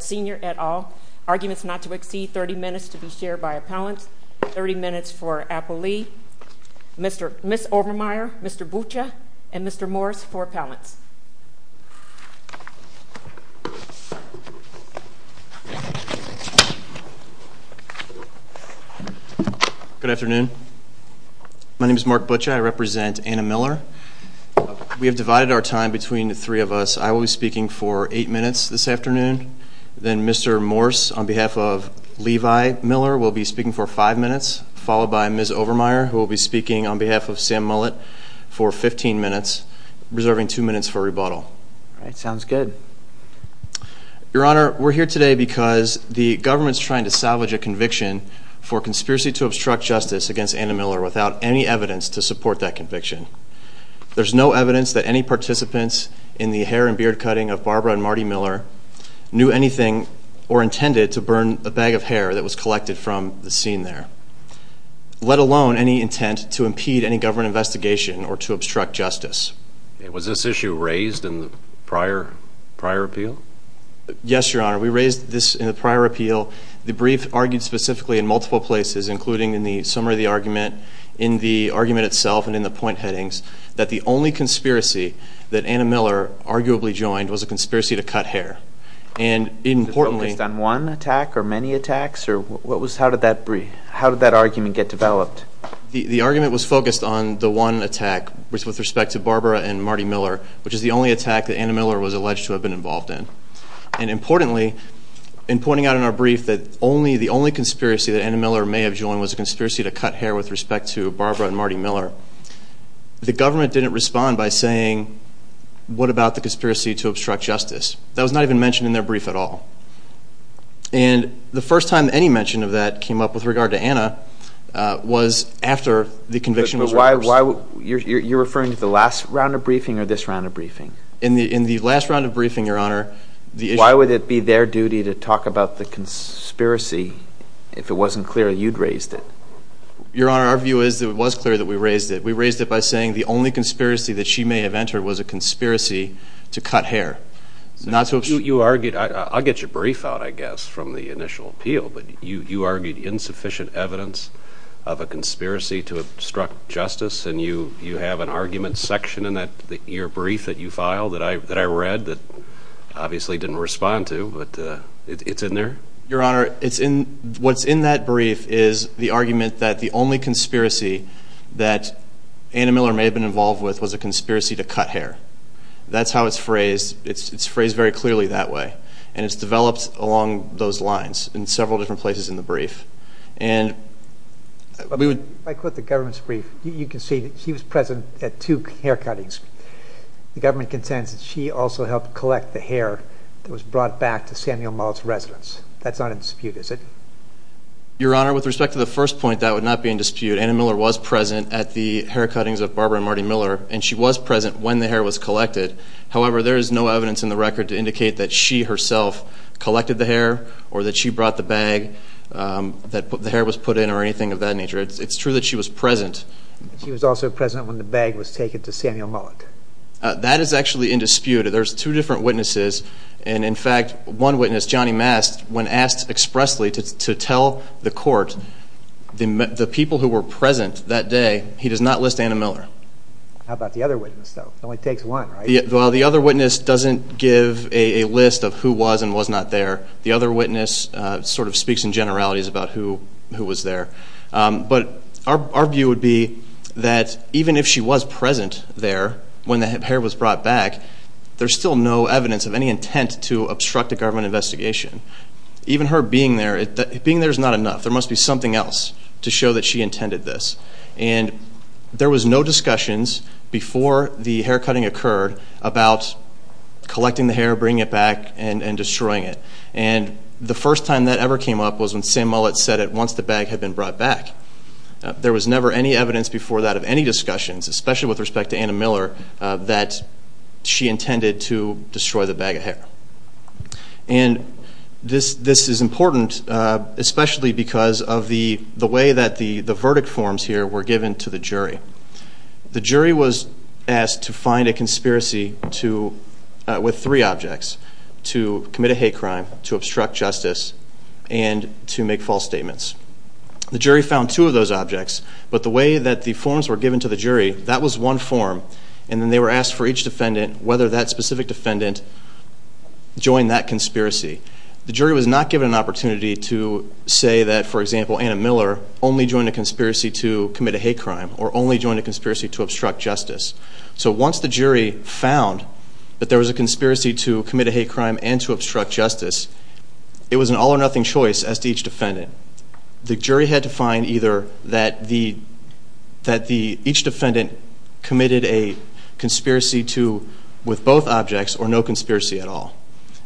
sr. at all. Arguments not to exceed 30 minutes to be shared by appellants. 30 minutes for Apple Lee, Ms. Obermeyer, Mr. Buccia, and Mr. Morris for appellants. Good afternoon. My name is Mark Buccia. I represent Anna Miller. We have divided our time between the three of us. I will be speaking for 8 minutes this afternoon. Then Mr. Morris on behalf of Levi Miller will be speaking for 5 minutes, followed by Ms. Obermeyer who will be speaking on behalf of Sam Mullett for 15 minutes, reserving 2 minutes for rebuttal. Sounds good. Your Honor, we're here today because the government's trying to salvage a conviction for conspiracy to obstruct justice against Anna Miller without any evidence to support that conviction. There's no evidence that any participants in the hair and beard let alone any intent to impede any government investigation or to obstruct justice. Was this issue raised in the prior appeal? Yes, Your Honor. We raised this in the prior appeal. The brief argued specifically in multiple places, including in the summary of the argument, in the argument itself, and in the point headings, that the only conspiracy that Anna Miller arguably joined was a conspiracy to cut hair. Was this focused on one attack or many attacks? How did that argument get developed? The argument was focused on the one attack with respect to Barbara and Marty Miller, which is the only attack that Anna Miller was alleged to have been involved in. Importantly, in pointing out in our brief that the only conspiracy that Anna Miller may have joined was a conspiracy to cut hair with respect to Barbara and Marty Miller, the government didn't respond by saying, what about the conspiracy to obstruct justice? That was not even mentioned in their brief at all. And the first time any mention of that came up with regard to Anna was after the conviction was reversed. You're referring to the last round of briefing or this round of briefing? In the last round of briefing, Your Honor, the issue... Why would it be their duty to talk about the conspiracy if it wasn't clear you'd raised it? Your Honor, our view is that it was clear that we raised it. We raised it by saying the only conspiracy that she may have entered was a conspiracy to cut hair. I'll get your brief out, I guess, from the initial appeal, but you argued insufficient evidence of a conspiracy to obstruct justice, and you have an argument section in your brief that you filed that I read that obviously didn't respond to, but it's in there? Your Honor, what's in that brief is the argument that the only conspiracy that Anna Miller may have been involved with was a conspiracy to cut hair. That's how it's phrased. It's phrased very clearly that way. And it's developed along those lines in several different places in the brief. If I quote the government's brief, you can see that she was present at two hair cuttings. The government contends that she also helped collect the hair that was brought back to Samuel Mullet's residence. That's not in dispute, is it? Your Honor, with respect to the first point, that would not be in dispute. Anna Miller was present at the hair cuttings of Barbara and Marty Miller, and she was present when the hair was collected. However, there is no evidence in the record to indicate that she herself collected the hair or that she brought the bag that the hair was put in or anything of that nature. It's true that she was present. She was also present when the bag was taken to Samuel Mullet. That is actually in dispute. There's two different witnesses, and in fact, one witness, Johnny Mast, when asked expressly to tell the court the people who were present that day, he does not list Anna Miller. How about the other witness, though? It only takes one, right? Well, the other witness doesn't give a list of who was and was not there. The other witness sort of speaks in generalities about who was there. But our view would be that even if she was present there when the hair was brought back, there's still no evidence of any intent to obstruct a government investigation. Even her being there, being there is not enough. There must be something else to show that she intended this. And there was no discussions before the hair cutting occurred about collecting the hair, bringing it back, and destroying it. And the first time that ever came up was when Samuel Mullet said it once the bag had been brought back. There was never any evidence before that of any discussions, especially with respect to Anna Miller, that she intended to destroy the bag of hair. And this is important, especially because of the way that the verdict forms here were given to the jury. The jury was asked to find a conspiracy with three objects, to commit a hate crime, to obstruct justice, and to make false statements. The jury found two of those objects, but the way that the forms were given to the jury, that was one form. And then they were asked for each defendant, whether that specific defendant joined that conspiracy. The jury was not given an opportunity to say that, for example, Anna Miller only joined a conspiracy to commit a hate crime, or only joined a conspiracy to obstruct justice. So once the jury found that there was a conspiracy to commit a hate crime and to obstruct justice, it was an all or nothing choice as to each defendant. The jury had to find either that each defendant committed a conspiracy with both objects, or no conspiracy at all.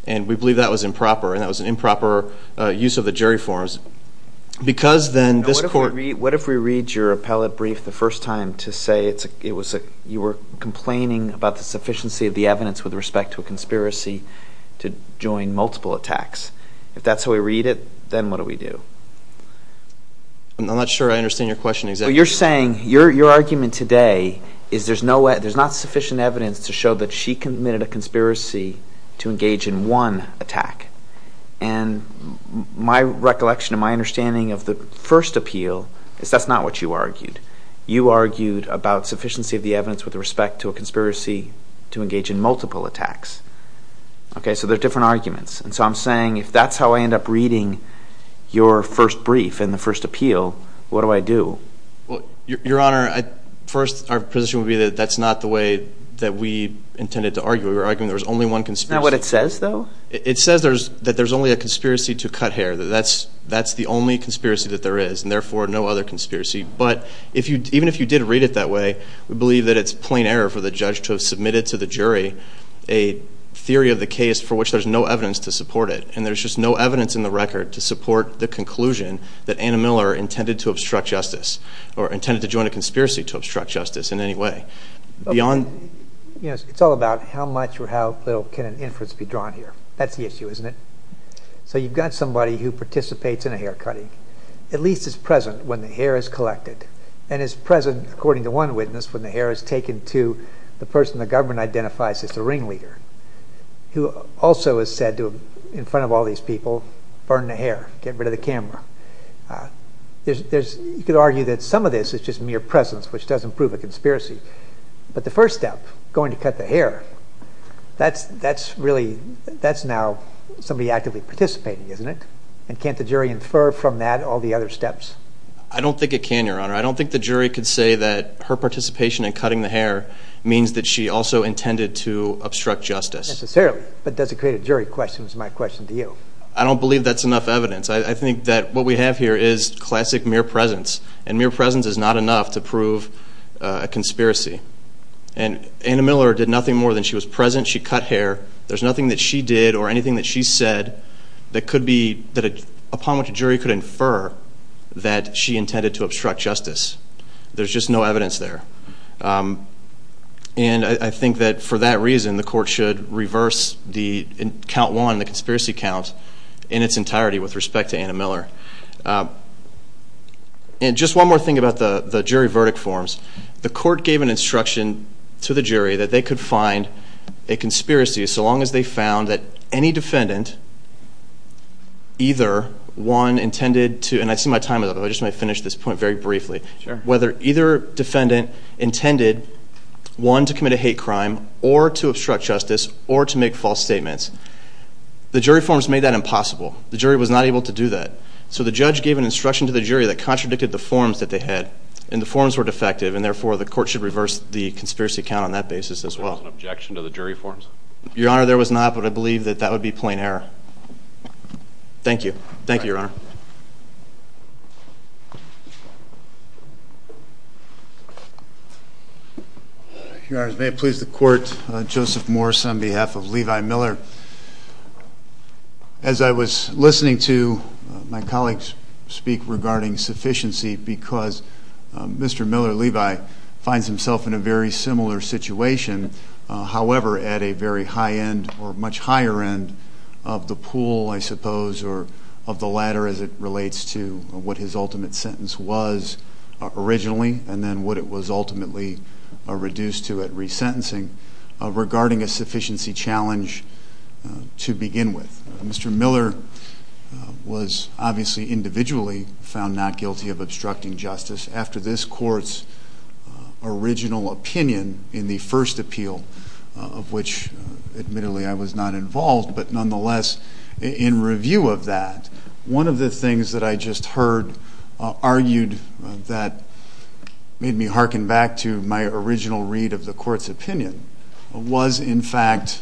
And we believe that was improper, and that was an improper use of the jury forms. Because then this court... What if we read your appellate brief the first time to say you were complaining about the sufficiency of the evidence with respect to a conspiracy to join multiple attacks? If that's how we read it, then what do we do? I'm not sure I understand your question exactly. So you're saying your argument today is there's not sufficient evidence to show that she committed a conspiracy to engage in one attack. And my recollection and my understanding of the first appeal is that's not what you argued. You argued about sufficiency of the evidence with respect to a conspiracy to engage in multiple attacks. Okay, so they're different arguments. And so I'm saying if that's how I end up reading your first brief and the first appeal, what do I do? Your Honor, first our position would be that that's not the way that we intended to argue. We were arguing there was only one conspiracy. Is that what it says, though? It says that there's only a conspiracy to cut hair. That's the only conspiracy that there is, and therefore no other conspiracy. But even if you did read it that way, we believe that it's plain error for the judge to have submitted to the jury a theory of the case for which there's no evidence to support it. And there's just no evidence in the record to support the conclusion that Anna Miller intended to obstruct justice or intended to join a conspiracy to obstruct justice in any way. It's all about how much or how little can an inference be drawn here. That's the issue, isn't it? So you've got somebody who participates in a hair cutting, at least is present when the hair is collected, and is present, according to one witness, when the hair is taken to the person the government identifies as the ringleader, who also is said to, in front of all these people, burn the hair, get rid of the camera. You could argue that some of this is just mere presence, which doesn't prove a conspiracy. But the first step, going to cut the hair, that's now somebody actively participating, isn't it? And can't the jury infer from that all the other steps? I don't think it can, Your Honor. I don't think the jury could say that her participation in cutting the hair means that she also intended to obstruct justice. Necessarily. But does it create a jury question is my question to you. I don't believe that's enough evidence. I think that what we have here is classic mere presence. And mere presence is not enough to prove a conspiracy. And Anna Miller did nothing more than she was present. She cut hair. There's nothing that she did or anything that she said that upon which a jury could infer that she intended to obstruct justice. There's just no evidence there. And I think that for that reason, the court should reverse the count one, the conspiracy count, in its entirety with respect to Anna Miller. And just one more thing about the jury verdict forms. The court gave an instruction to the jury that they could find a conspiracy so long as they found that any defendant, either one intended to, and I see my time is up. I just want to finish this point very briefly. Sure. Whether either defendant intended one to commit a hate crime or to obstruct justice or to make false statements, the jury forms made that impossible. The jury was not able to do that. So the judge gave an instruction to the jury that contradicted the forms that they had. And the forms were defective, and therefore the court should reverse the conspiracy count on that basis as well. There was an objection to the jury forms? Your Honor, there was not, but I believe that that would be plain error. Thank you. Thank you, Your Honor. Your Honor, may it please the Court, Joseph Morris on behalf of Levi Miller. As I was listening to my colleagues speak regarding sufficiency, because Mr. Miller, Levi, finds himself in a very similar situation, however, at a very high end or much higher end of the pool, I suppose, or of the latter as it relates to what his ultimate sentence was originally and then what it was ultimately reduced to at resentencing, regarding a sufficiency challenge to begin with. Mr. Miller was obviously individually found not guilty of obstructing justice. After this Court's original opinion in the first appeal, of which admittedly I was not involved, but nonetheless in review of that, one of the things that I just heard argued that made me hearken back to my original read of the Court's opinion was, in fact,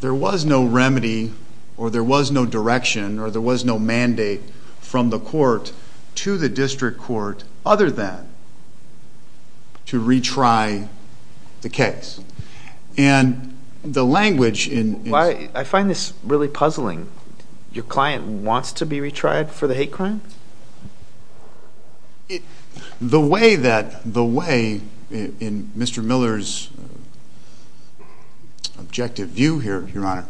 there was no remedy or there was no direction or there was no mandate from the Court to the district court other than to retry the case. I find this really puzzling. Your client wants to be retried for the hate crime? The way in Mr. Miller's objective view here, Your Honor,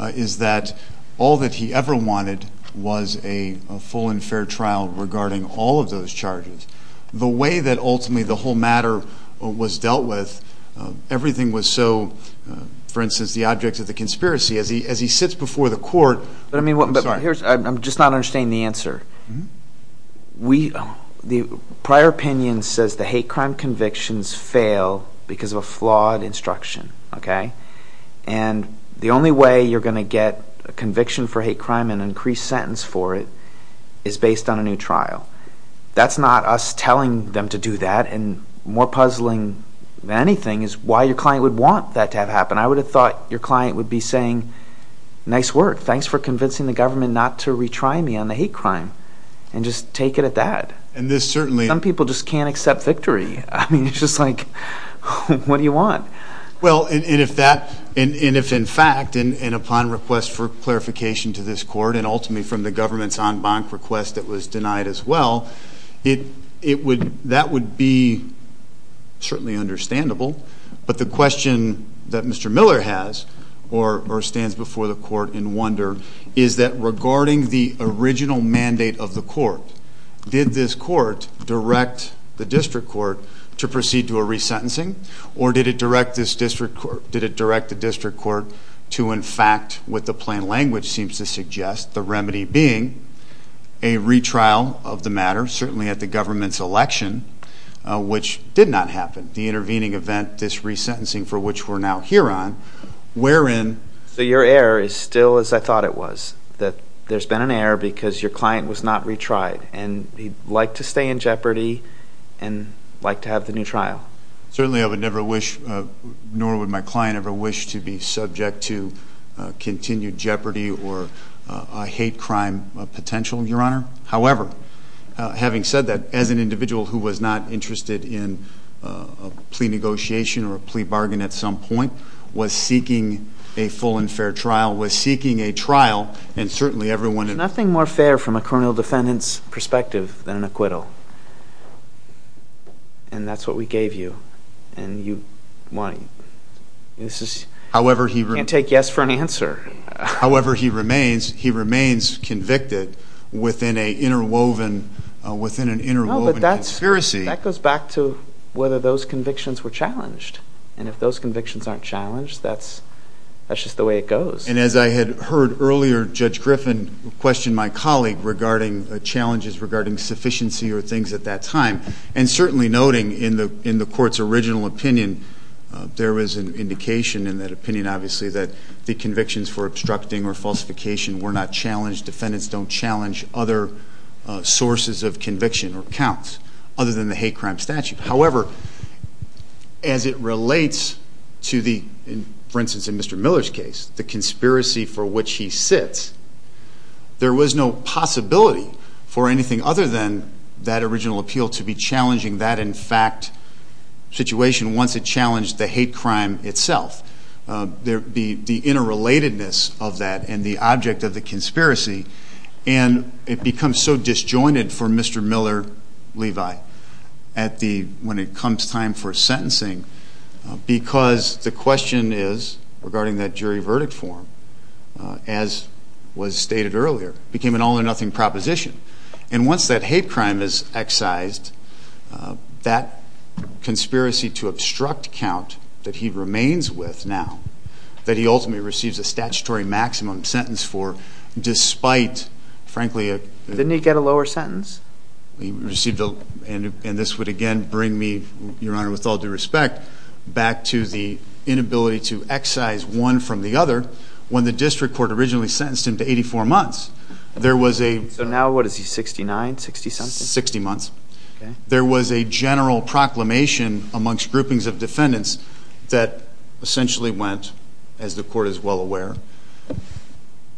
is that all that he ever wanted was a full and fair trial regarding all of those charges. The way that ultimately the whole matter was dealt with, everything was so, for instance, the object of the conspiracy, as he sits before the Court... I'm just not understanding the answer. The prior opinion says the hate crime convictions fail because of a flawed instruction. The only way you're going to get a conviction for hate crime and an increased sentence for it is based on a new trial. That's not us telling them to do that, and more puzzling than anything is why your client would want that to have happened. I would have thought your client would be saying, nice work, thanks for convincing the government not to retry me on the hate crime, and just take it at that. Some people just can't accept victory. I mean, it's just like, what do you want? Well, and if in fact and upon request for clarification to this Court and ultimately from the government's en banc request that was denied as well, that would be certainly understandable. But the question that Mr. Miller has, or stands before the Court in wonder, is that regarding the original mandate of the Court, did this Court direct the district court to proceed to a resentencing, or did it direct the district court to, in fact, what the plain language seems to suggest, the remedy being a retrial of the matter, certainly at the government's election, which did not happen, the intervening event, this resentencing for which we're now here on, wherein... So your error is still as I thought it was, that there's been an error because your client was not retried, and he'd like to stay in jeopardy and like to have the new trial. Certainly I would never wish, nor would my client ever wish, to be subject to continued jeopardy or a hate crime potential, Your Honor. However, having said that, as an individual who was not interested in a plea negotiation or a plea bargain at some point, was seeking a full and fair trial, was seeking a trial, and certainly everyone... There's nothing more fair from a criminal defendant's perspective than an acquittal. And that's what we gave you. And you... This is... However he... Can't take yes for an answer. However he remains, he remains convicted within an interwoven conspiracy. No, but that goes back to whether those convictions were challenged. And if those convictions aren't challenged, that's just the way it goes. And as I had heard earlier, Judge Griffin questioned my colleague regarding challenges regarding sufficiency or things at that time, and certainly noting in the court's original opinion, there was an indication in that opinion, obviously, that the convictions for obstructing or falsification were not challenged. Defendants don't challenge other sources of conviction or counts other than the hate crime statute. However, as it relates to the... For instance, in Mr. Miller's case, the conspiracy for which he sits, there was no possibility for anything other than that original appeal to be challenging that, in fact, situation once it challenged the hate crime itself. The interrelatedness of that and the object of the conspiracy, and it becomes so disjointed for Mr. Miller, Levi, when it comes time for sentencing, because the question is, regarding that jury verdict form, as was stated earlier, became an all-or-nothing proposition. And once that hate crime is excised, that conspiracy to obstruct count that he remains with now, that he ultimately receives a statutory maximum sentence for, despite, frankly... Didn't he get a lower sentence? He received a... And this would, again, bring me, Your Honor, with all due respect, back to the inability to excise one from the other. When the district court originally sentenced him to 84 months, there was a... So now what is he, 69, 60-something? 60 months. Okay. There was a general proclamation amongst groupings of defendants that essentially went, as the court is well aware,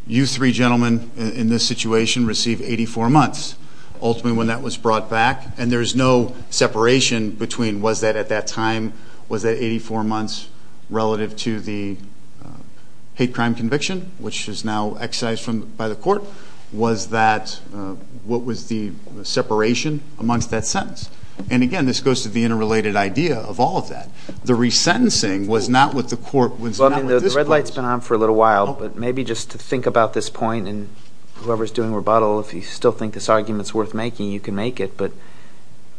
you three gentlemen in this situation receive 84 months. Ultimately, when that was brought back, and there is no separation between was that at that time, was that 84 months relative to the hate crime conviction, which is now excised by the court? Was that... What was the separation amongst that sentence? And, again, this goes to the interrelated idea of all of that. The resentencing was not what the court... Well, I mean, the red light's been on for a little while, but maybe just to think about this point, and whoever's doing rebuttal, if you still think this argument's worth making, you can make it. But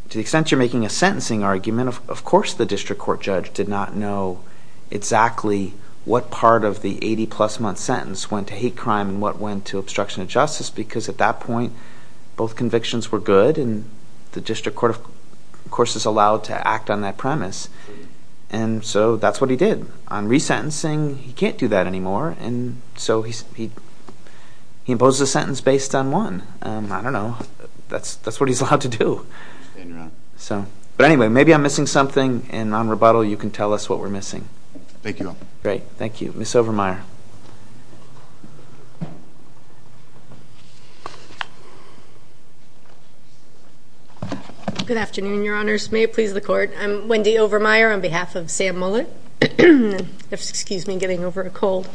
to the extent you're making a sentencing argument, of course the district court judge did not know exactly what part of the 80-plus-month sentence went to hate crime and what went to obstruction of justice, because at that point, both convictions were good, and the district court, of course, is allowed to act on that premise. And so that's what he did. On resentencing, he can't do that anymore, and so he imposed a sentence based on one. I don't know. That's what he's allowed to do. But anyway, maybe I'm missing something, and on rebuttal you can tell us what we're missing. Thank you. Great. Thank you. Ms. Overmyer. Good afternoon, Your Honors. May it please the court. I'm Wendy Overmyer on behalf of Sam Mullett. Excuse me, getting over a cold.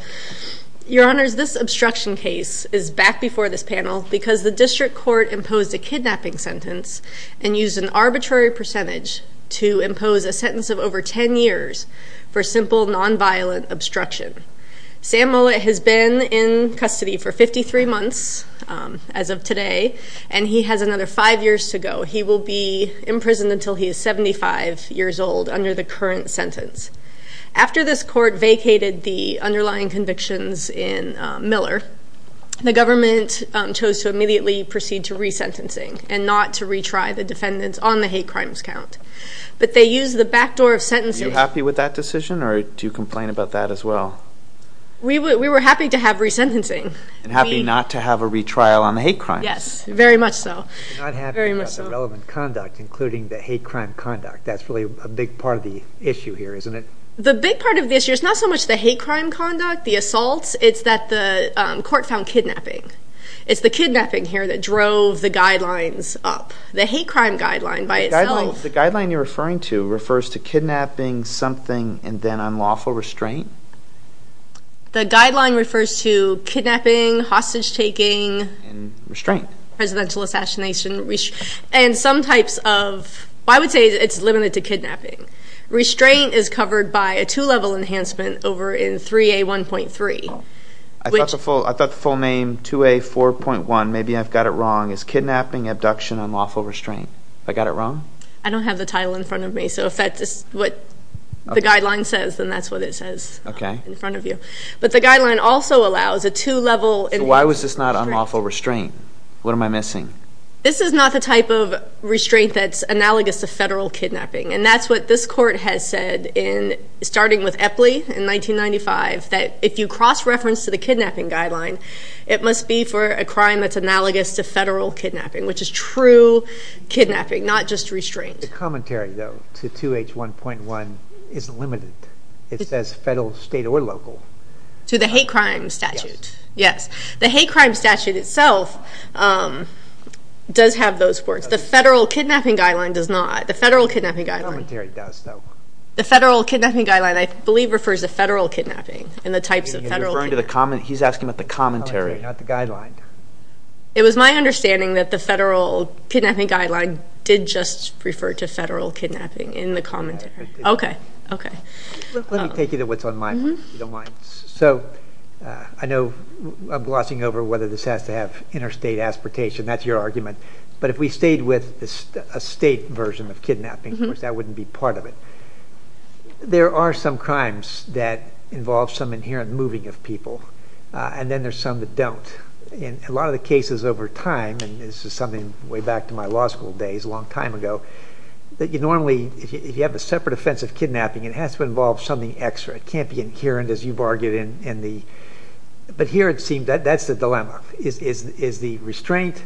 Your Honors, this obstruction case is back before this panel because the district court imposed a kidnapping sentence and used an arbitrary percentage to impose a sentence of over 10 years for simple, nonviolent obstruction. Sam Mullett has been in custody for 53 months as of today, and he has another five years to go. He will be in prison until he is 75 years old under the current sentence. After this court vacated the underlying convictions in Miller, the government chose to immediately proceed to resentencing and not to retry the defendants on the hate crimes count. But they used the backdoor of sentencing. Are you happy with that decision, or do you complain about that as well? We were happy to have resentencing. And happy not to have a retrial on the hate crimes. Yes, very much so. Not happy about the relevant conduct, including the hate crime conduct. That's really a big part of the issue here, isn't it? The big part of the issue is not so much the hate crime conduct, the assaults. It's that the court found kidnapping. It's the kidnapping here that drove the guidelines up. The hate crime guideline by itself. The guideline you're referring to refers to kidnapping, something, and then unlawful restraint? The guideline refers to kidnapping, hostage-taking. And restraint. Presidential assassination. And some types of, I would say it's limited to kidnapping. Restraint is covered by a two-level enhancement over in 3A1.3. I thought the full name 2A4.1, maybe I've got it wrong, is Kidnapping, Abduction, Unlawful Restraint. Have I got it wrong? I don't have the title in front of me, so if that's what the guideline says, then that's what it says in front of you. But the guideline also allows a two-level enhancement. Why was this not unlawful restraint? What am I missing? This is not the type of restraint that's analogous to federal kidnapping. And that's what this court has said, starting with Epley in 1995, that if you cross-reference to the kidnapping guideline, it must be for a crime that's analogous to federal kidnapping, which is true kidnapping, not just restraint. The commentary, though, to 2H1.1 is limited. It says federal, state, or local. To the hate crime statute. Yes, the hate crime statute itself does have those words. The federal kidnapping guideline does not. The federal kidnapping guideline. The commentary does, though. The federal kidnapping guideline, I believe, refers to federal kidnapping and the types of federal kidnapping. He's asking about the commentary, not the guideline. It was my understanding that the federal kidnapping guideline did just refer to federal kidnapping in the commentary. Let me take you to what's on mine, if you don't mind. I know I'm glossing over whether this has to have interstate aspiratation. That's your argument. But if we stayed with a state version of kidnapping, of course, that wouldn't be part of it. There are some crimes that involve some inherent moving of people, and then there's some that don't. In a lot of the cases over time, and this is something way back to my law school days a long time ago, that you normally, if you have a separate offense of kidnapping, it has to involve something extra. It can't be inherent, as you've argued. But here it seems that's the dilemma. Is the restraint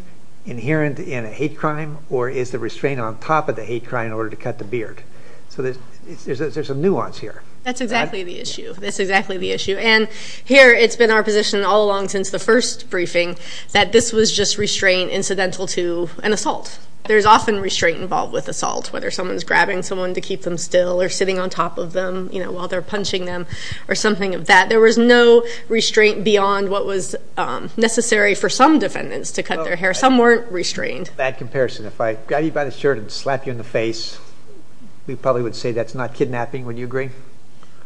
inherent in a hate crime, or is the restraint on top of the hate crime in order to cut the beard? So there's a nuance here. That's exactly the issue. That's exactly the issue. And here it's been our position all along since the first briefing that this was just restraint incidental to an assault. There's often restraint involved with assault, whether someone's grabbing someone to keep them still or sitting on top of them while they're punching them or something of that. There was no restraint beyond what was necessary for some defendants to cut their hair. Some weren't restrained. Bad comparison. If I got you by the shirt and slapped you in the face, we probably would say that's not kidnapping. Would you agree?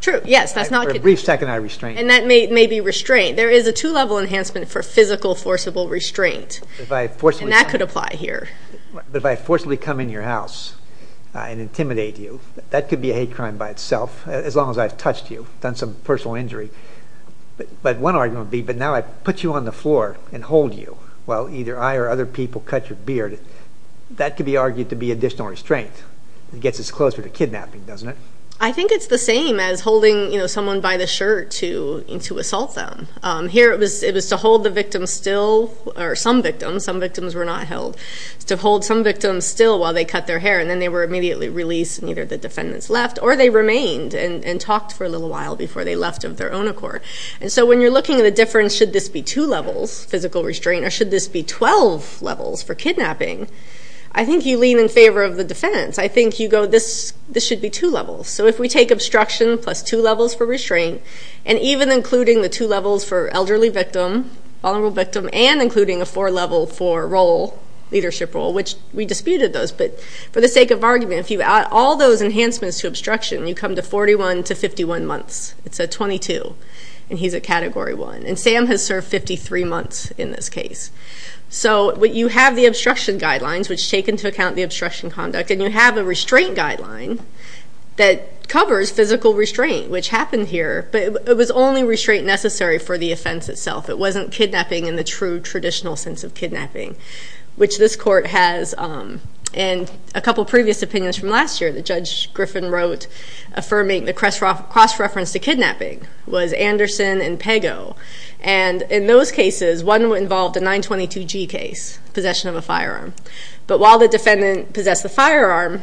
True. Yes, that's not kidnapping. For a brief second, I restrained. And that may be restraint. There is a two-level enhancement for physical forcible restraint, and that could apply here. But if I forcibly come in your house and intimidate you, that could be a hate crime by itself, as long as I've touched you, done some personal injury. But one argument would be, but now I put you on the floor and hold you while either I or other people cut your beard. That could be argued to be additional restraint. It gets us closer to kidnapping, doesn't it? I think it's the same as holding someone by the shirt to assault them. Here it was to hold the victim still, or some victims. Some victims were not held. It's to hold some victims still while they cut their hair, and then they were immediately released and either the defendants left or they remained and talked for a little while before they left of their own accord. So when you're looking at the difference, should this be two levels, physical restraint, or should this be 12 levels for kidnapping, I think you lean in favor of the defendants. I think you go, this should be two levels. So if we take obstruction plus two levels for restraint, and even including the two levels for elderly victim, vulnerable victim, and including a four-level for leadership role, which we disputed those, but for the sake of argument, if you add all those enhancements to obstruction, you come to 41 to 51 months. It's a 22, and he's a Category 1. And Sam has served 53 months in this case. So you have the obstruction guidelines, which take into account the obstruction conduct, and you have a restraint guideline that covers physical restraint, which happened here, but it was only restraint necessary for the offense itself. It wasn't kidnapping in the true traditional sense of kidnapping, which this court has. And a couple previous opinions from last year, the Judge Griffin wrote affirming the cross-reference to kidnapping was Anderson and Pago. And in those cases, one involved a 922G case, possession of a firearm. But while the defendant possessed the firearm,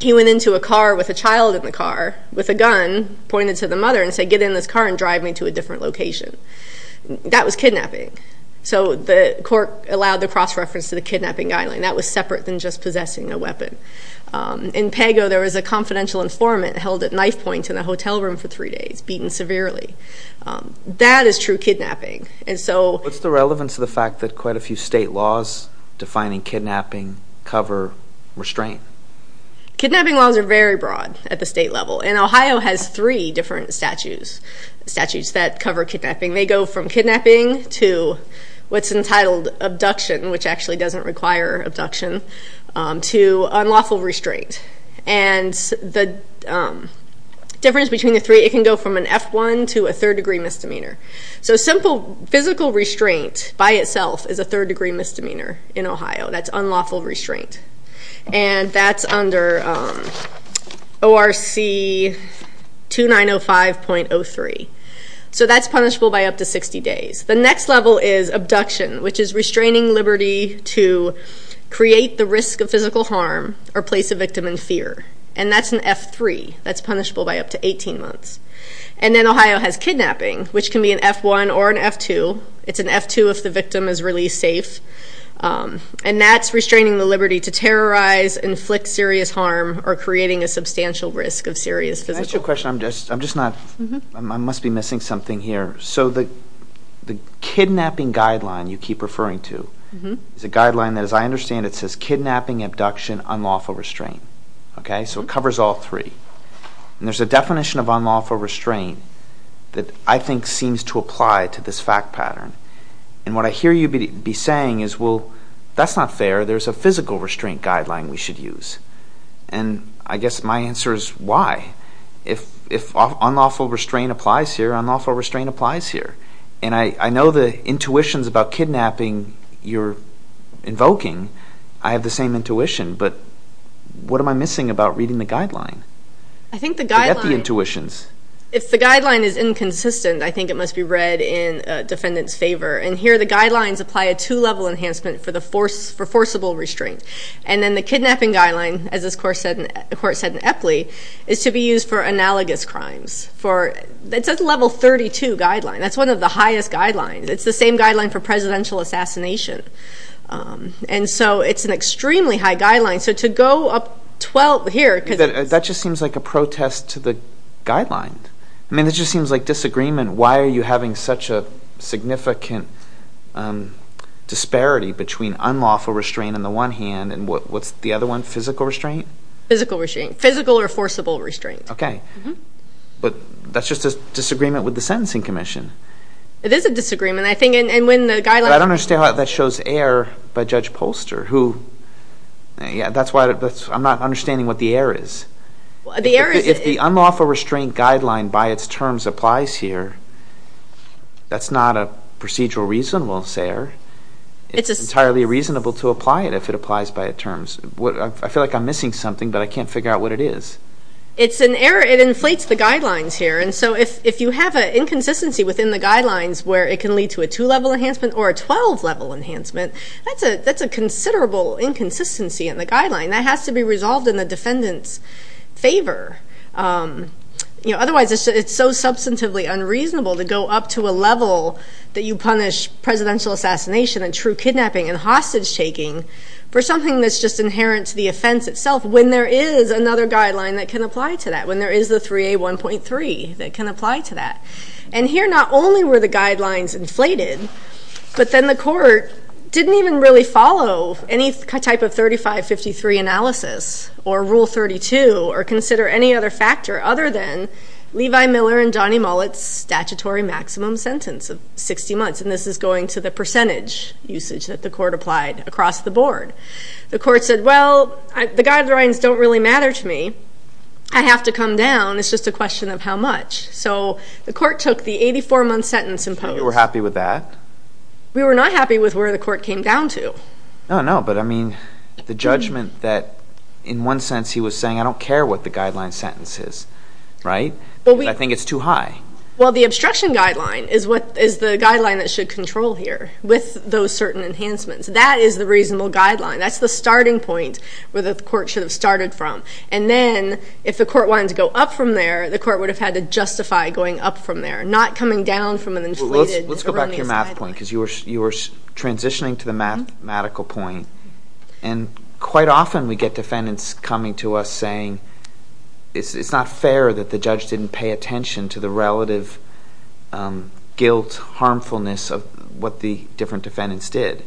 he went into a car with a child in the car with a gun pointed to the mother and said, get in this car and drive me to a different location. That was kidnapping. So the court allowed the cross-reference to the kidnapping guideline. That was separate than just possessing a weapon. In Pago, there was a confidential informant held at knife point in a hotel room for three days, beaten severely. That is true kidnapping. What's the relevance of the fact that quite a few state laws defining kidnapping cover restraint? Kidnapping laws are very broad at the state level, and Ohio has three different statutes that cover kidnapping. They go from kidnapping to what's entitled abduction, which actually doesn't require abduction, to unlawful restraint. And the difference between the three, it can go from an F-1 to a third-degree misdemeanor. So simple physical restraint by itself is a third-degree misdemeanor in Ohio. That's unlawful restraint. And that's under ORC 2905.03. So that's punishable by up to 60 days. The next level is abduction, which is restraining liberty to create the risk of physical harm or place a victim in fear. And that's an F-3. That's punishable by up to 18 months. And then Ohio has kidnapping, which can be an F-1 or an F-2. It's an F-2 if the victim is released safe. And that's restraining the liberty to terrorize, inflict serious harm, or creating a substantial risk of serious physical harm. Let me ask you a question. I must be missing something here. So the kidnapping guideline you keep referring to is a guideline that, as I understand it, says kidnapping, abduction, unlawful restraint. So it covers all three. And there's a definition of unlawful restraint that I think seems to apply to this fact pattern. And what I hear you be saying is, well, that's not fair. There's a physical restraint guideline we should use. And I guess my answer is why. If unlawful restraint applies here, unlawful restraint applies here. And I know the intuitions about kidnapping you're invoking. I have the same intuition. But what am I missing about reading the guideline? Forget the intuitions. If the guideline is inconsistent, I think it must be read in defendant's favor. And here the guidelines apply a two-level enhancement for forcible restraint. And then the kidnapping guideline, as this court said in Epley, is to be used for analogous crimes. It's a level 32 guideline. That's one of the highest guidelines. It's the same guideline for presidential assassination. And so it's an extremely high guideline. So to go up 12 here because it's... That just seems like a protest to the guideline. I mean, it just seems like disagreement. Why are you having such a significant disparity between unlawful restraint on the one hand and what's the other one, physical restraint? Physical restraint. Physical or forcible restraint. Okay. But that's just a disagreement with the Sentencing Commission. It is a disagreement, I think. And when the guideline... But I don't understand why that shows error by Judge Polster, who... That's why I'm not understanding what the error is. If the unlawful restraint guideline by its terms applies here, that's not a procedural reason, we'll say. It's entirely reasonable to apply it if it applies by its terms. I feel like I'm missing something, but I can't figure out what it is. It's an error. It inflates the guidelines here. And so if you have an inconsistency within the guidelines where it can lead to a two-level enhancement or a 12-level enhancement, that's a considerable inconsistency in the guideline. That has to be resolved in the defendant's favor. Otherwise, it's so substantively unreasonable to go up to a level that you punish presidential assassination and true kidnapping and hostage-taking for something that's just inherent to the offense itself when there is another guideline that can apply to that, when there is the 3A1.3 that can apply to that. And here, not only were the guidelines inflated, but then the court didn't even really follow any type of 3553 analysis or Rule 32 or consider any other factor other than Levi Miller and Johnny Mullet's statutory maximum sentence of 60 months. And this is going to the percentage usage that the court applied across the board. The court said, well, the guidelines don't really matter to me. I have to come down. It's just a question of how much. So the court took the 84-month sentence in post. We were happy with that. We were not happy with where the court came down to. No, no, but I mean the judgment that in one sense he was saying, I don't care what the guideline sentence is, right? I think it's too high. Well, the obstruction guideline is the guideline that should control here with those certain enhancements. That is the reasonable guideline. That's the starting point where the court should have started from. And then if the court wanted to go up from there, the court would have had to justify going up from there, not coming down from an inflated erroneous guideline. Let's go back to your math point because you were transitioning to the mathematical point. And quite often we get defendants coming to us saying it's not fair that the judge didn't pay attention to the relative guilt, harmfulness of what the different defendants did.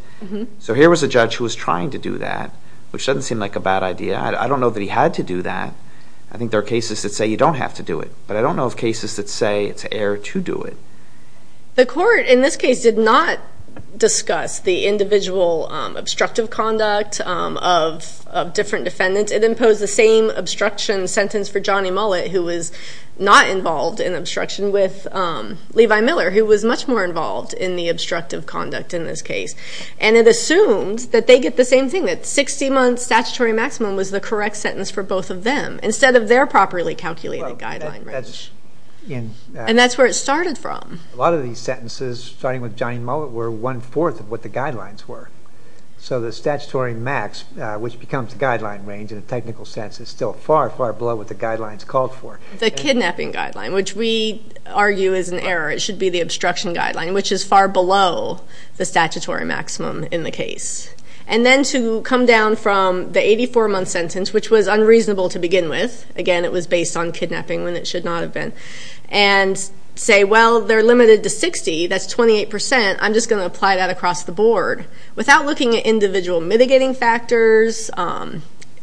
So here was a judge who was trying to do that, which doesn't seem like a bad idea. I don't know that he had to do that. I think there are cases that say you don't have to do it. But I don't know of cases that say it's fair to do it. The court in this case did not discuss the individual obstructive conduct of different defendants. It imposed the same obstruction sentence for Johnny Mullet, who was not involved in obstruction, with Levi Miller, who was much more involved in the obstructive conduct in this case. And it assumed that they get the same thing, that 60 months statutory maximum was the correct sentence for both of them, instead of their properly calculated guideline range. And that's where it started from. A lot of these sentences, starting with Johnny Mullet, were one-fourth of what the guidelines were. So the statutory max, which becomes the guideline range in a technical sense, is still far, far below what the guidelines called for. The kidnapping guideline, which we argue is an error. It should be the obstruction guideline, which is far below the statutory maximum in the case. And then to come down from the 84-month sentence, which was unreasonable to begin with. Again, it was based on kidnapping when it should not have been. And say, well, they're limited to 60. That's 28%. I'm just going to apply that across the board. Without looking at individual mitigating factors,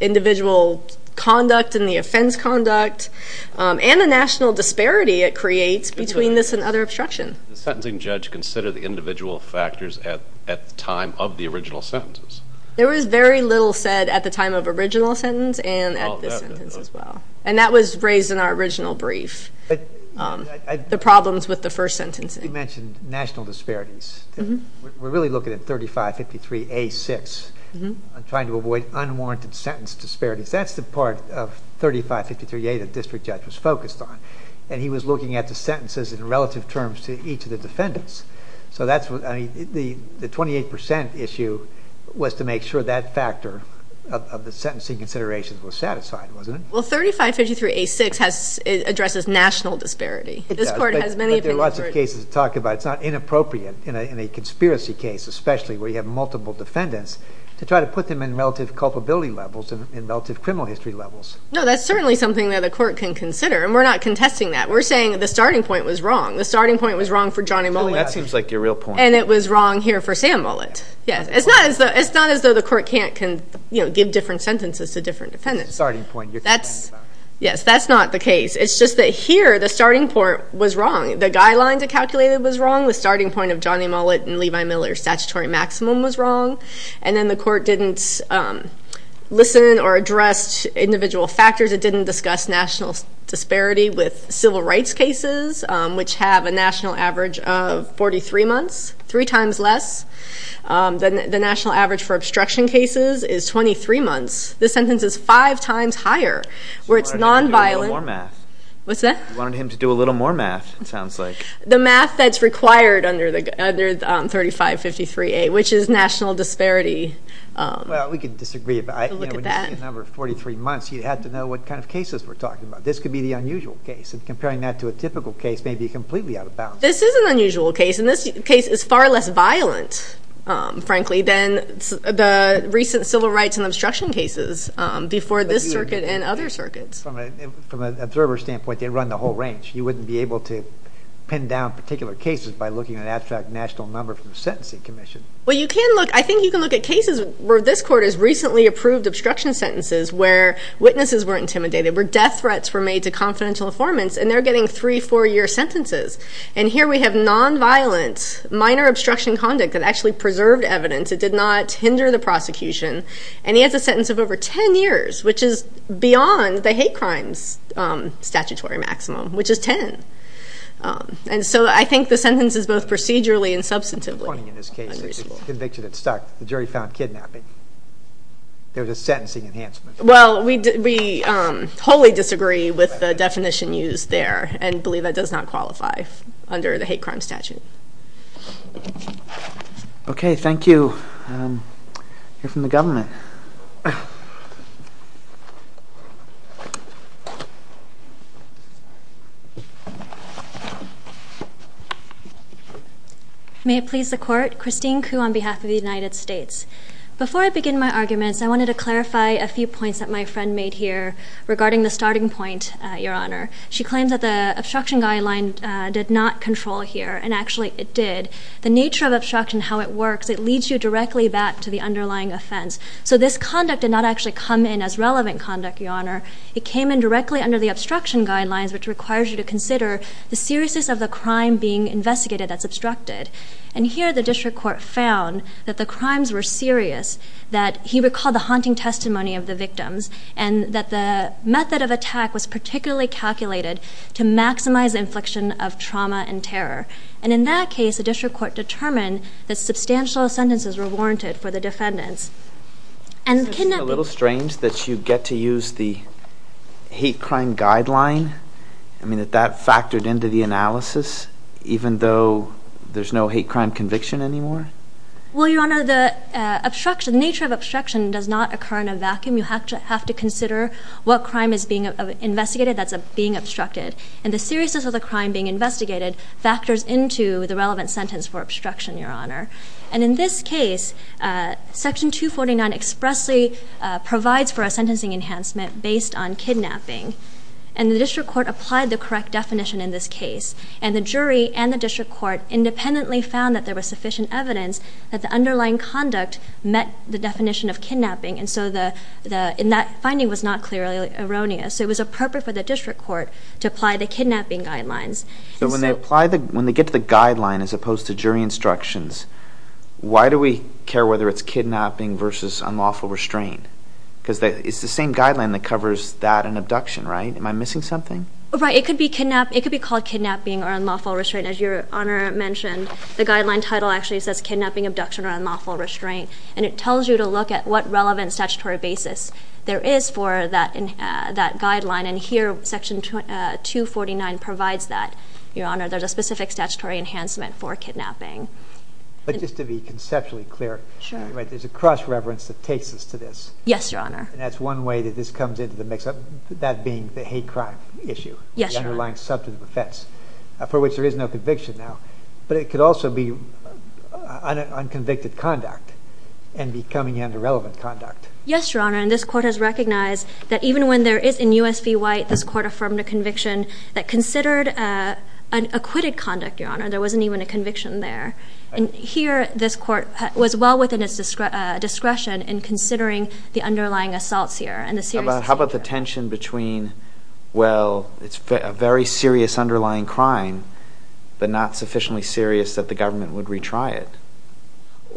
individual conduct and the offense conduct, and the national disparity it creates between this and other obstruction. Does the sentencing judge consider the individual factors at the time of the original sentences? There was very little said at the time of the original sentence and at this sentence as well. And that was raised in our original brief, the problems with the first sentencing. You mentioned national disparities. We're really looking at 3553A6, trying to avoid unwarranted sentence disparities. That's the part of 3553A that the district judge was focused on. And he was looking at the sentences in relative terms to each of the defendants. So the 28% issue was to make sure that factor of the sentencing considerations was satisfied, wasn't it? Well, 3553A6 addresses national disparity. It does, but there are lots of cases to talk about. It's not inappropriate in a conspiracy case, especially where you have multiple defendants, to try to put them in relative culpability levels and relative criminal history levels. No, that's certainly something that a court can consider, and we're not contesting that. We're saying the starting point was wrong. The starting point was wrong for Johnny Mullet. That seems like your real point. And it was wrong here for Sam Mullet. It's not as though the court can't give different sentences to different defendants. It's the starting point. Yes, that's not the case. It's just that here the starting point was wrong. The guidelines it calculated was wrong. The starting point of Johnny Mullet and Levi Miller's statutory maximum was wrong. And then the court didn't listen or address individual factors. It didn't discuss national disparity with civil rights cases, which have a national average of 43 months, three times less. The national average for obstruction cases is 23 months. This sentence is five times higher, where it's nonviolent. You wanted him to do a little more math. What's that? You wanted him to do a little more math, it sounds like. The math that's required under 3553A, which is national disparity. Well, we can disagree. When you see a number of 43 months, you have to know what kind of cases we're talking about. This could be the unusual case. And comparing that to a typical case may be completely out of bounds. This is an unusual case. And this case is far less violent, frankly, than the recent civil rights and obstruction cases before this circuit and other circuits. From an observer's standpoint, they run the whole range. You wouldn't be able to pin down particular cases by looking at an abstract national number from a sentencing commission. Well, you can look. I think you can look at cases where this court has recently approved obstruction sentences where witnesses were intimidated, where death threats were made to confidential informants, and they're getting three-, four-year sentences. And here we have nonviolent, minor obstruction conduct that actually preserved evidence. It did not hinder the prosecution. And he has a sentence of over ten years, which is beyond the hate crimes statutory maximum, which is ten. And so I think the sentence is both procedurally and substantively unreasonable. It's funny in this case. It's a conviction that stuck. The jury found kidnapping. There was a sentencing enhancement. Well, we wholly disagree with the definition used there and believe that does not qualify under the hate crime statute. Okay, thank you. Here from the government. May it please the Court. Christine Khoo on behalf of the United States. Before I begin my arguments, I wanted to clarify a few points that my friend made here regarding the starting point, Your Honor. She claims that the obstruction guideline did not control here, and actually it did. The nature of obstruction, how it works, it leads you directly back to the underlying offense. So this conduct did not actually come in as relevant conduct, Your Honor. It came in directly under the obstruction guidelines, which requires you to consider the seriousness of the crime being investigated that's obstructed. And here the district court found that the crimes were serious, that he recalled the haunting testimony of the victims, and that the method of attack was particularly calculated to maximize the infliction of trauma and terror. And in that case, the district court determined that substantial sentences were warranted for the defendants. Isn't it a little strange that you get to use the hate crime guideline? I mean, that factored into the analysis, even though there's no hate crime conviction anymore? Well, Your Honor, the nature of obstruction does not occur in a vacuum. You have to consider what crime is being investigated that's being obstructed. And the seriousness of the crime being investigated factors into the relevant sentence for obstruction, Your Honor. And in this case, Section 249 expressly provides for a sentencing enhancement based on kidnapping. And the district court applied the correct definition in this case. And the jury and the district court independently found that there was sufficient evidence that the underlying conduct met the definition of kidnapping. And so that finding was not clearly erroneous. So it was appropriate for the district court to apply the kidnapping guidelines. So when they get to the guideline as opposed to jury instructions, why do we care whether it's kidnapping versus unlawful restraint? Because it's the same guideline that covers that and abduction, right? Am I missing something? Right. It could be called kidnapping or unlawful restraint. As Your Honor mentioned, the guideline title actually says kidnapping, abduction, or unlawful restraint. And it tells you to look at what relevant statutory basis there is for that guideline. And here, Section 249 provides that, Your Honor. There's a specific statutory enhancement for kidnapping. But just to be conceptually clear, there's a cross-reverence that takes us to this. Yes, Your Honor. And that's one way that this comes into the mix, that being the hate crime issue, the underlying substance of offense, for which there is no conviction now. But it could also be unconvicted conduct and becoming underrelevant conduct. Yes, Your Honor. And this court has recognized that even when there is, in U.S. v. White, this court affirmed a conviction that considered acquitted conduct, Your Honor. There wasn't even a conviction there. And here, this court was well within its discretion in considering the underlying assaults here and the seriousness here.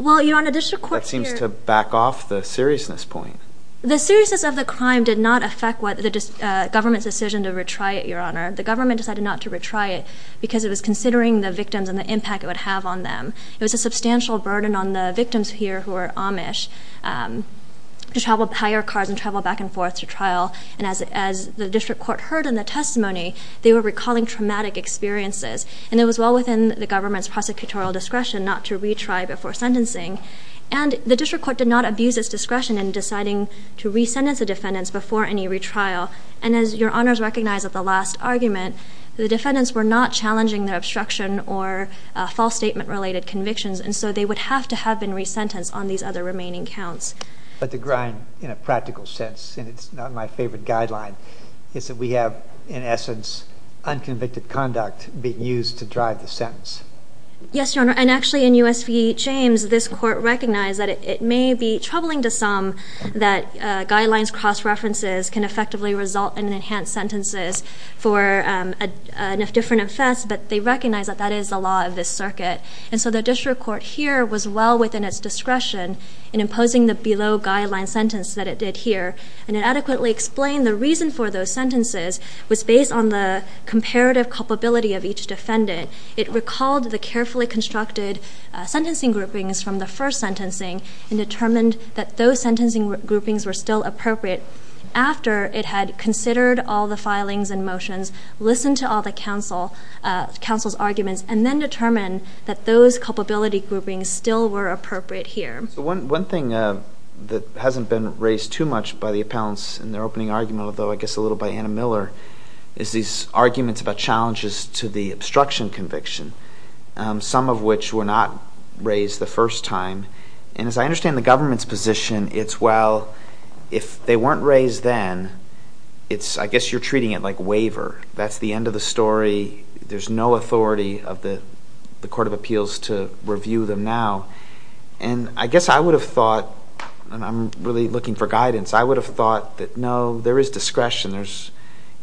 Well, Your Honor, the district court here. That seems to back off the seriousness point. The seriousness of the crime did not affect what the government's decision to retry it, Your Honor. The government decided not to retry it because it was considering the victims and the impact it would have on them. It was a substantial burden on the victims here who were Amish to hire cars and travel back and forth to trial. And as the district court heard in the testimony, they were recalling traumatic experiences. And it was well within the government's prosecutorial discretion not to retry before sentencing. And the district court did not abuse its discretion in deciding to resentence the defendants before any retrial. And as Your Honors recognize at the last argument, the defendants were not challenging their obstruction or false statement-related convictions. And so they would have to have been resentenced on these other remaining counts. But the grind in a practical sense, and it's not my favorite guideline, is that we have, in essence, unconvicted conduct being used to drive the sentence. Yes, Your Honor. And actually, in U.S. v. James, this court recognized that it may be troubling to some that guidelines cross-references can effectively result in enhanced sentences for enough different offense, but they recognize that that is the law of this circuit. And so the district court here was well within its discretion in imposing the below guideline sentence that it did here. And it adequately explained the reason for those sentences was based on the comparative culpability of each defendant. It recalled the carefully constructed sentencing groupings from the first sentencing and determined that those sentencing groupings were still appropriate after it had considered all the filings and motions, listened to all the counsel's arguments, and then determined that those culpability groupings still were appropriate here. One thing that hasn't been raised too much by the appellants in their opening argument, although I guess a little by Anna Miller, is these arguments about challenges to the obstruction conviction, some of which were not raised the first time. And as I understand the government's position, it's, well, if they weren't raised then, I guess you're treating it like waiver. That's the end of the story. There's no authority of the Court of Appeals to review them now. And I guess I would have thought, and I'm really looking for guidance, I would have thought that, no, there is discretion.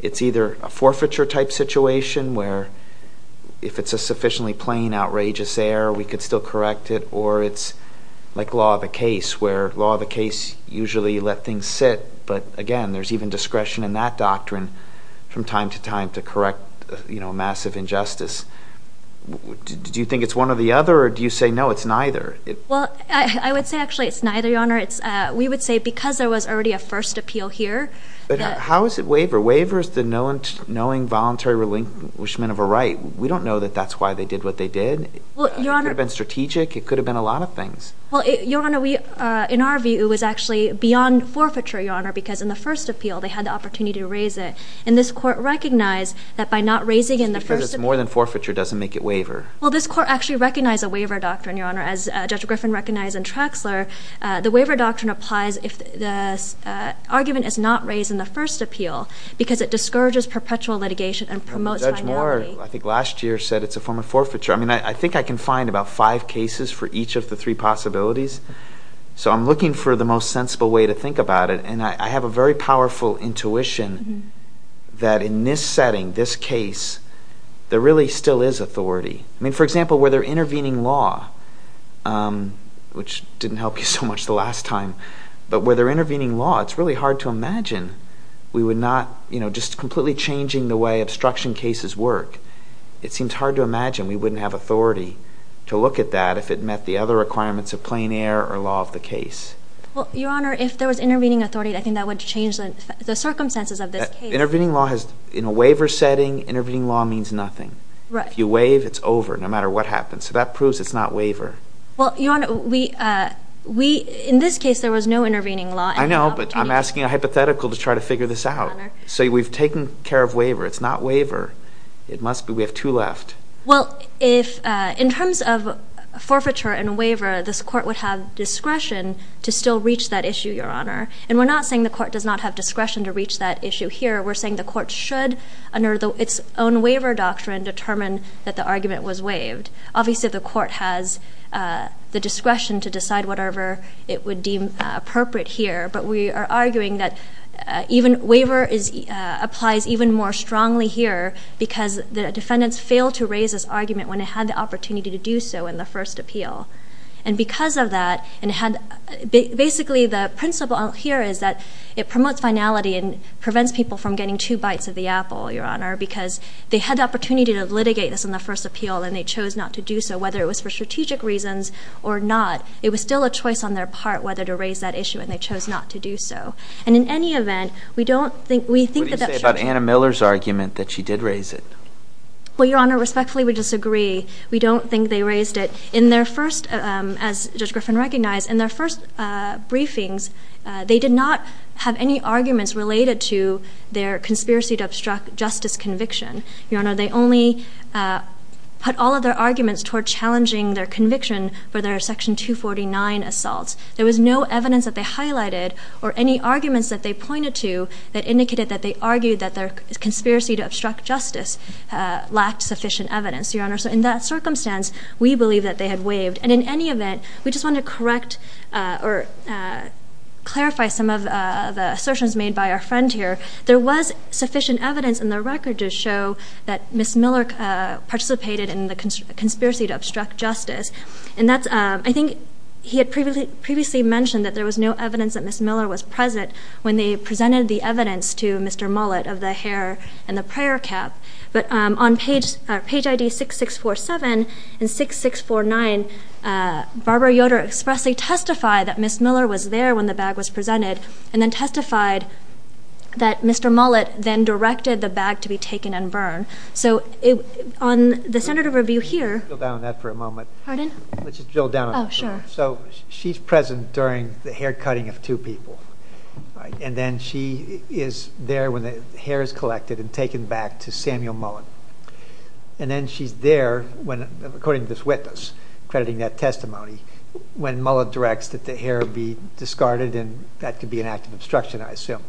It's either a forfeiture-type situation where if it's a sufficiently plain, outrageous error, we could still correct it, or it's like law of the case where law of the case usually let things sit, but, again, there's even discretion in that doctrine from time to time to correct a massive injustice. Do you think it's one or the other, or do you say, no, it's neither? Well, I would say actually it's neither, Your Honor. We would say because there was already a first appeal here. But how is it waiver? Waiver is the knowing voluntary relinquishment of a right. We don't know that that's why they did what they did. It could have been strategic. It could have been a lot of things. Well, Your Honor, in our view, it was actually beyond forfeiture, Your Honor, because in the first appeal they had the opportunity to raise it. And this Court recognized that by not raising it in the first appeal. Because it's more than forfeiture doesn't make it waiver. Well, this Court actually recognized a waiver doctrine, Your Honor. As Judge Griffin recognized in Traxler, the waiver doctrine applies if the argument is not raised in the first appeal because it discourages perpetual litigation and promotes finality. I think I can find about five cases for each of the three possibilities. So I'm looking for the most sensible way to think about it. And I have a very powerful intuition that in this setting, this case, there really still is authority. I mean, for example, where they're intervening law, which didn't help you so much the last time, but where they're intervening law, it's really hard to imagine we would not, you know, just completely changing the way obstruction cases work. It seems hard to imagine we wouldn't have authority to look at that if it met the other requirements of plain air or law of the case. Well, Your Honor, if there was intervening authority, I think that would change the circumstances of this case. Intervening law has, in a waiver setting, intervening law means nothing. Right. If you waive, it's over, no matter what happens. So that proves it's not waiver. Well, Your Honor, we, in this case, there was no intervening law. I know, but I'm asking a hypothetical to try to figure this out. So we've taken care of waiver. It's not waiver. It must be. We have two left. Well, in terms of forfeiture and waiver, this court would have discretion to still reach that issue, Your Honor. And we're not saying the court does not have discretion to reach that issue here. We're saying the court should, under its own waiver doctrine, determine that the argument was waived. Obviously, the court has the discretion to decide whatever it would deem appropriate here. But we are arguing that waiver applies even more strongly here because the defendants failed to raise this argument when they had the opportunity to do so in the first appeal. And because of that, basically the principle here is that it promotes finality and prevents people from getting two bites of the apple, Your Honor, because they had the opportunity to litigate this in the first appeal and they chose not to do so. Whether it was for strategic reasons or not, it was still a choice on their part whether to raise that issue and they chose not to do so. And in any event, we don't think that that's true. What do you say about Anna Miller's argument that she did raise it? Well, Your Honor, respectfully, we disagree. We don't think they raised it. In their first, as Judge Griffin recognized, in their first briefings, they did not have any arguments related to their conspiracy to obstruct justice conviction. Your Honor, they only put all of their arguments toward challenging their conviction for their Section 249 assaults. There was no evidence that they highlighted or any arguments that they pointed to that indicated that they argued that their conspiracy to obstruct justice lacked sufficient evidence, Your Honor. So in that circumstance, we believe that they had waived. And in any event, we just want to correct or clarify some of the assertions made by our friend here. There was sufficient evidence in the record to show that Ms. Miller participated in the conspiracy to obstruct justice. I think he had previously mentioned that there was no evidence that Ms. Miller was present when they presented the evidence to Mr. Mullett of the hair and the prayer cap. But on page IDs 6647 and 6649, Barbara Yoder expressly testified that Ms. Miller was there when the bag was presented and then testified that Mr. Mullett then directed the bag to be taken and burned. So on the standard of review here – Let's drill down on that for a moment. Pardon? Let's just drill down on that for a moment. Oh, sure. So she's present during the haircutting of two people. And then she is there when the hair is collected and taken back to Samuel Mullett. And then she's there, according to this witness, crediting that testimony, when Mullett directs that the hair be discarded, and that could be an act of obstruction, I assume.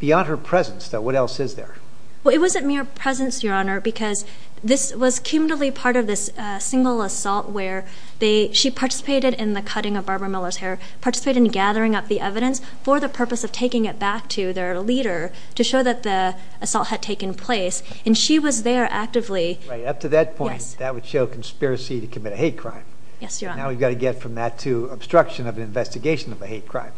Beyond her presence, though, what else is there? Well, it wasn't mere presence, Your Honor, because this was kindly part of this single assault where she participated in the cutting of Barbara Miller's hair, participated in gathering up the evidence for the purpose of taking it back to their leader to show that the assault had taken place, and she was there actively. Right. Up to that point, that would show conspiracy to commit a hate crime. Yes, Your Honor. Now we've got to get from that to obstruction of an investigation of a hate crime.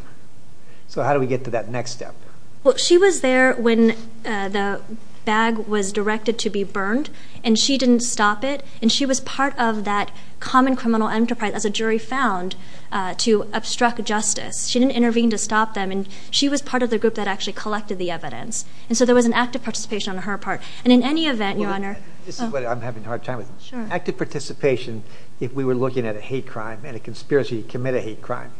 So how do we get to that next step? Well, she was there when the bag was directed to be burned, and she didn't stop it, and she was part of that common criminal enterprise, as a jury found, to obstruct justice. She didn't intervene to stop them, and she was part of the group that actually collected the evidence. And so there was an active participation on her part. And in any event, Your Honor— This is what I'm having a hard time with. Sure. Active participation if we were looking at a hate crime and a conspiracy to commit a hate crime.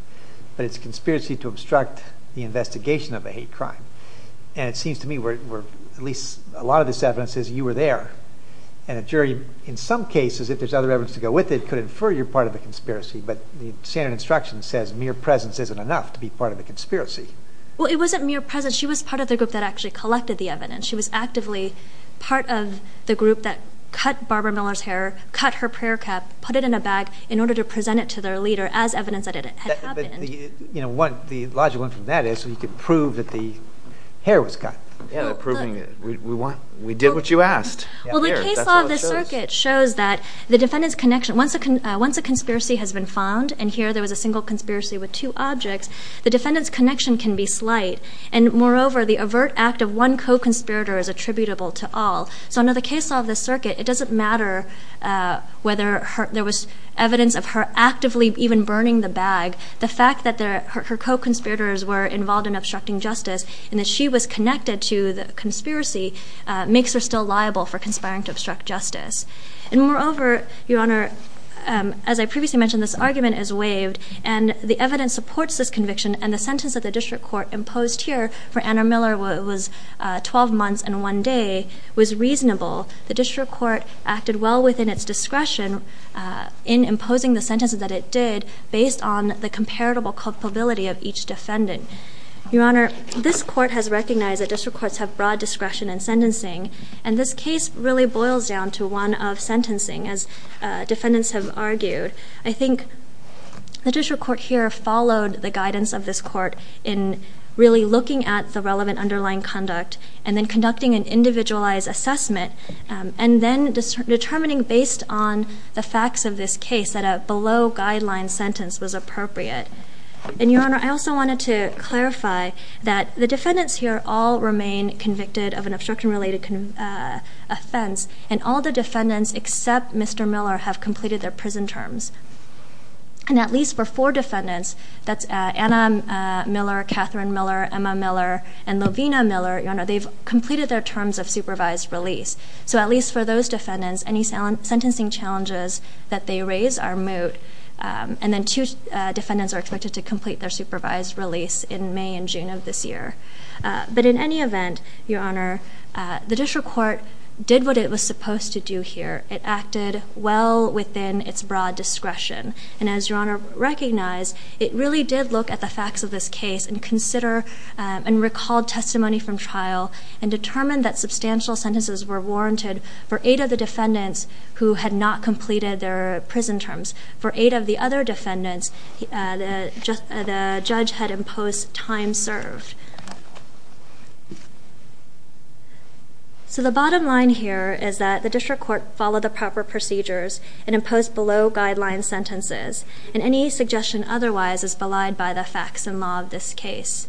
But it's a conspiracy to obstruct the investigation of a hate crime. And it seems to me where at least a lot of this evidence says you were there. And a jury, in some cases, if there's other evidence to go with it, could infer you're part of a conspiracy. But the standard instruction says mere presence isn't enough to be part of a conspiracy. Well, it wasn't mere presence. She was part of the group that actually collected the evidence. She was actively part of the group that cut Barbara Miller's hair, cut her prayer cap, put it in a bag in order to present it to their leader as evidence that it had happened. But the logical one from that is you could prove that the hair was cut. Yeah, proving that we did what you asked. Well, the case law of the circuit shows that the defendant's connection— once a conspiracy has been found, and here there was a single conspiracy with two objects, the defendant's connection can be slight. And moreover, the overt act of one co-conspirator is attributable to all. So under the case law of the circuit, it doesn't matter whether there was evidence of her actively even burning the bag. The fact that her co-conspirators were involved in obstructing justice and that she was connected to the conspiracy makes her still liable for conspiring to obstruct justice. And moreover, Your Honor, as I previously mentioned, this argument is waived, and the evidence supports this conviction, and the sentence that the district court imposed here for Anna Miller was 12 months and one day was reasonable. The district court acted well within its discretion in imposing the sentences that it did based on the comparable culpability of each defendant. Your Honor, this court has recognized that district courts have broad discretion in sentencing, and this case really boils down to one of sentencing, as defendants have argued. I think the district court here followed the guidance of this court in really looking at the relevant underlying conduct and then conducting an individualized assessment, and then determining based on the facts of this case that a below-guideline sentence was appropriate. And Your Honor, I also wanted to clarify that the defendants here all remain convicted of an obstruction-related offense, and all the defendants except Mr. Miller have completed their prison terms. And at least for four defendants, that's Anna Miller, Catherine Miller, Emma Miller, and Lovina Miller, Your Honor, they've completed their terms of supervised release. So at least for those defendants, any sentencing challenges that they raise are moot, and then two defendants are expected to complete their supervised release in May and June of this year. But in any event, Your Honor, the district court did what it was supposed to do here. It acted well within its broad discretion, and as Your Honor recognized, it really did look at the facts of this case and consider and recall testimony from trial and determine that substantial sentences were warranted for eight of the defendants who had not completed their prison terms. For eight of the other defendants, the judge had imposed time served. So the bottom line here is that the district court followed the proper procedures and imposed below-guideline sentences, and any suggestion otherwise is belied by the facts and law of this case.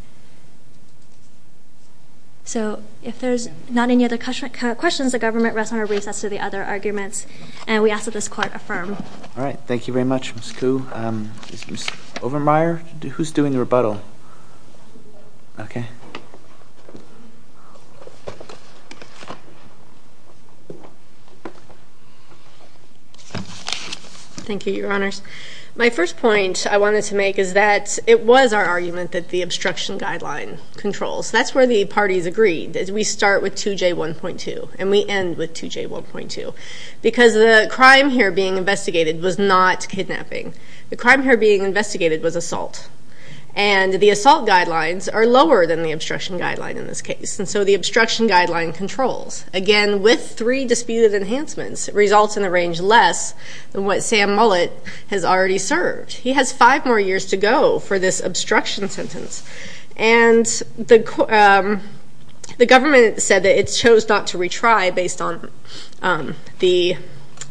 So if there's not any other questions, the government rests on a recess to the other arguments, and we ask that this court affirm. All right. Thank you very much, Ms. Koo. Ms. Overmyer, who's doing the rebuttal? Okay. Thank you, Your Honors. My first point I wanted to make is that it was our argument that the obstruction guideline controls. That's where the parties agreed. We start with 2J1.2, and we end with 2J1.2. Because the crime here being investigated was not kidnapping. The crime here being investigated was assault. And the assault guidelines are lower than the obstruction guideline in this case, and so the obstruction guideline controls. Again, with three disputed enhancements, it results in a range less than what Sam Mullett has already served. He has five more years to go for this obstruction sentence. And the government said that it chose not to retry based on the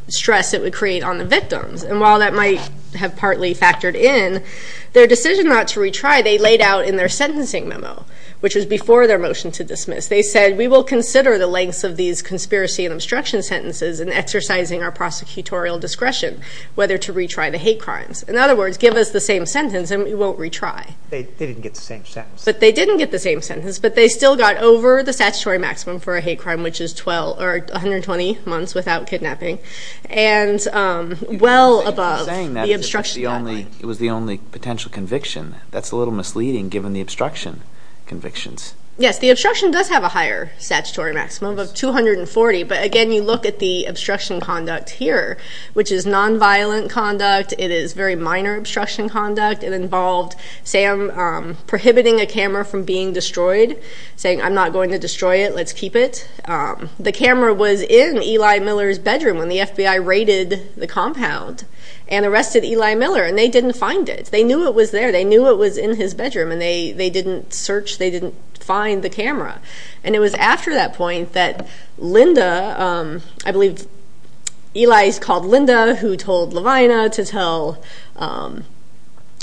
stress it would create on the victims. And while that might have partly factored in, their decision not to retry they laid out in their sentencing memo, which was before their motion to dismiss. They said, we will consider the lengths of these conspiracy and obstruction sentences in exercising our prosecutorial discretion, whether to retry the hate crimes. In other words, give us the same sentence and we won't retry. They didn't get the same sentence. But they didn't get the same sentence, but they still got over the statutory maximum for a hate crime, which is 120 months without kidnapping. And well above the obstruction guideline. It was the only potential conviction. That's a little misleading given the obstruction convictions. Yes, the obstruction does have a higher statutory maximum of 240. But again, you look at the obstruction conduct here, which is nonviolent conduct. It is very minor obstruction conduct. It involved Sam prohibiting a camera from being destroyed, saying, I'm not going to destroy it. Let's keep it. The camera was in Eli Miller's bedroom when the FBI raided the compound and arrested Eli Miller. And they didn't find it. They knew it was there. They knew it was in his bedroom. And they didn't search. They didn't find the camera. And it was after that point that Linda, I believe Eli's called Linda, who told Lavina to tell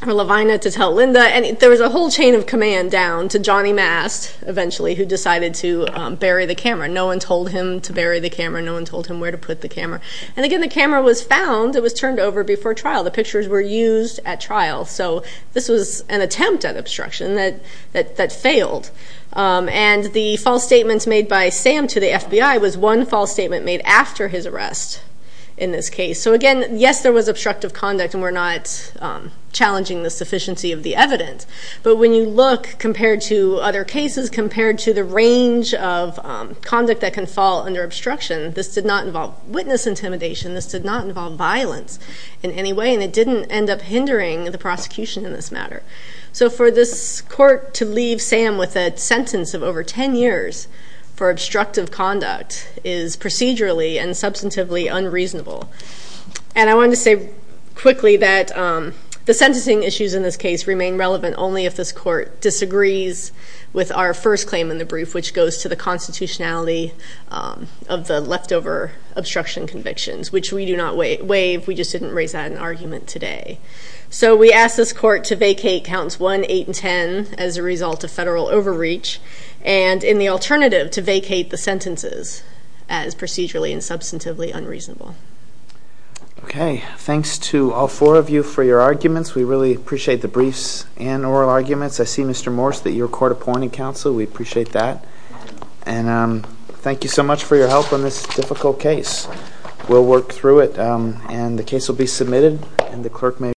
Linda. And there was a whole chain of command down to Johnny Mast eventually who decided to bury the camera. No one told him to bury the camera. No one told him where to put the camera. And again, the camera was found. It was turned over before trial. The pictures were used at trial. So this was an attempt at obstruction that failed. And the false statements made by Sam to the FBI was one false statement made after his arrest in this case. So again, yes, there was obstructive conduct, and we're not challenging the sufficiency of the evidence. But when you look compared to other cases, compared to the range of conduct that can fall under obstruction, this did not involve witness intimidation. This did not involve violence in any way. And it didn't end up hindering the prosecution in this matter. So for this court to leave Sam with a sentence of over 10 years for obstructive conduct is procedurally and substantively unreasonable. And I wanted to say quickly that the sentencing issues in this case remain relevant only if this court disagrees with our first claim in the brief, which goes to the constitutionality of the leftover obstruction convictions, which we do not waive. We just didn't raise that in argument today. So we ask this court to vacate counts 1, 8, and 10 as a result of federal overreach, and in the alternative, to vacate the sentences as procedurally and substantively unreasonable. Okay. Thanks to all four of you for your arguments. We really appreciate the briefs and oral arguments. I see, Mr. Morse, that you're court appointing counsel. We appreciate that. And thank you so much for your help on this difficult case. We'll work through it. And the case will be submitted.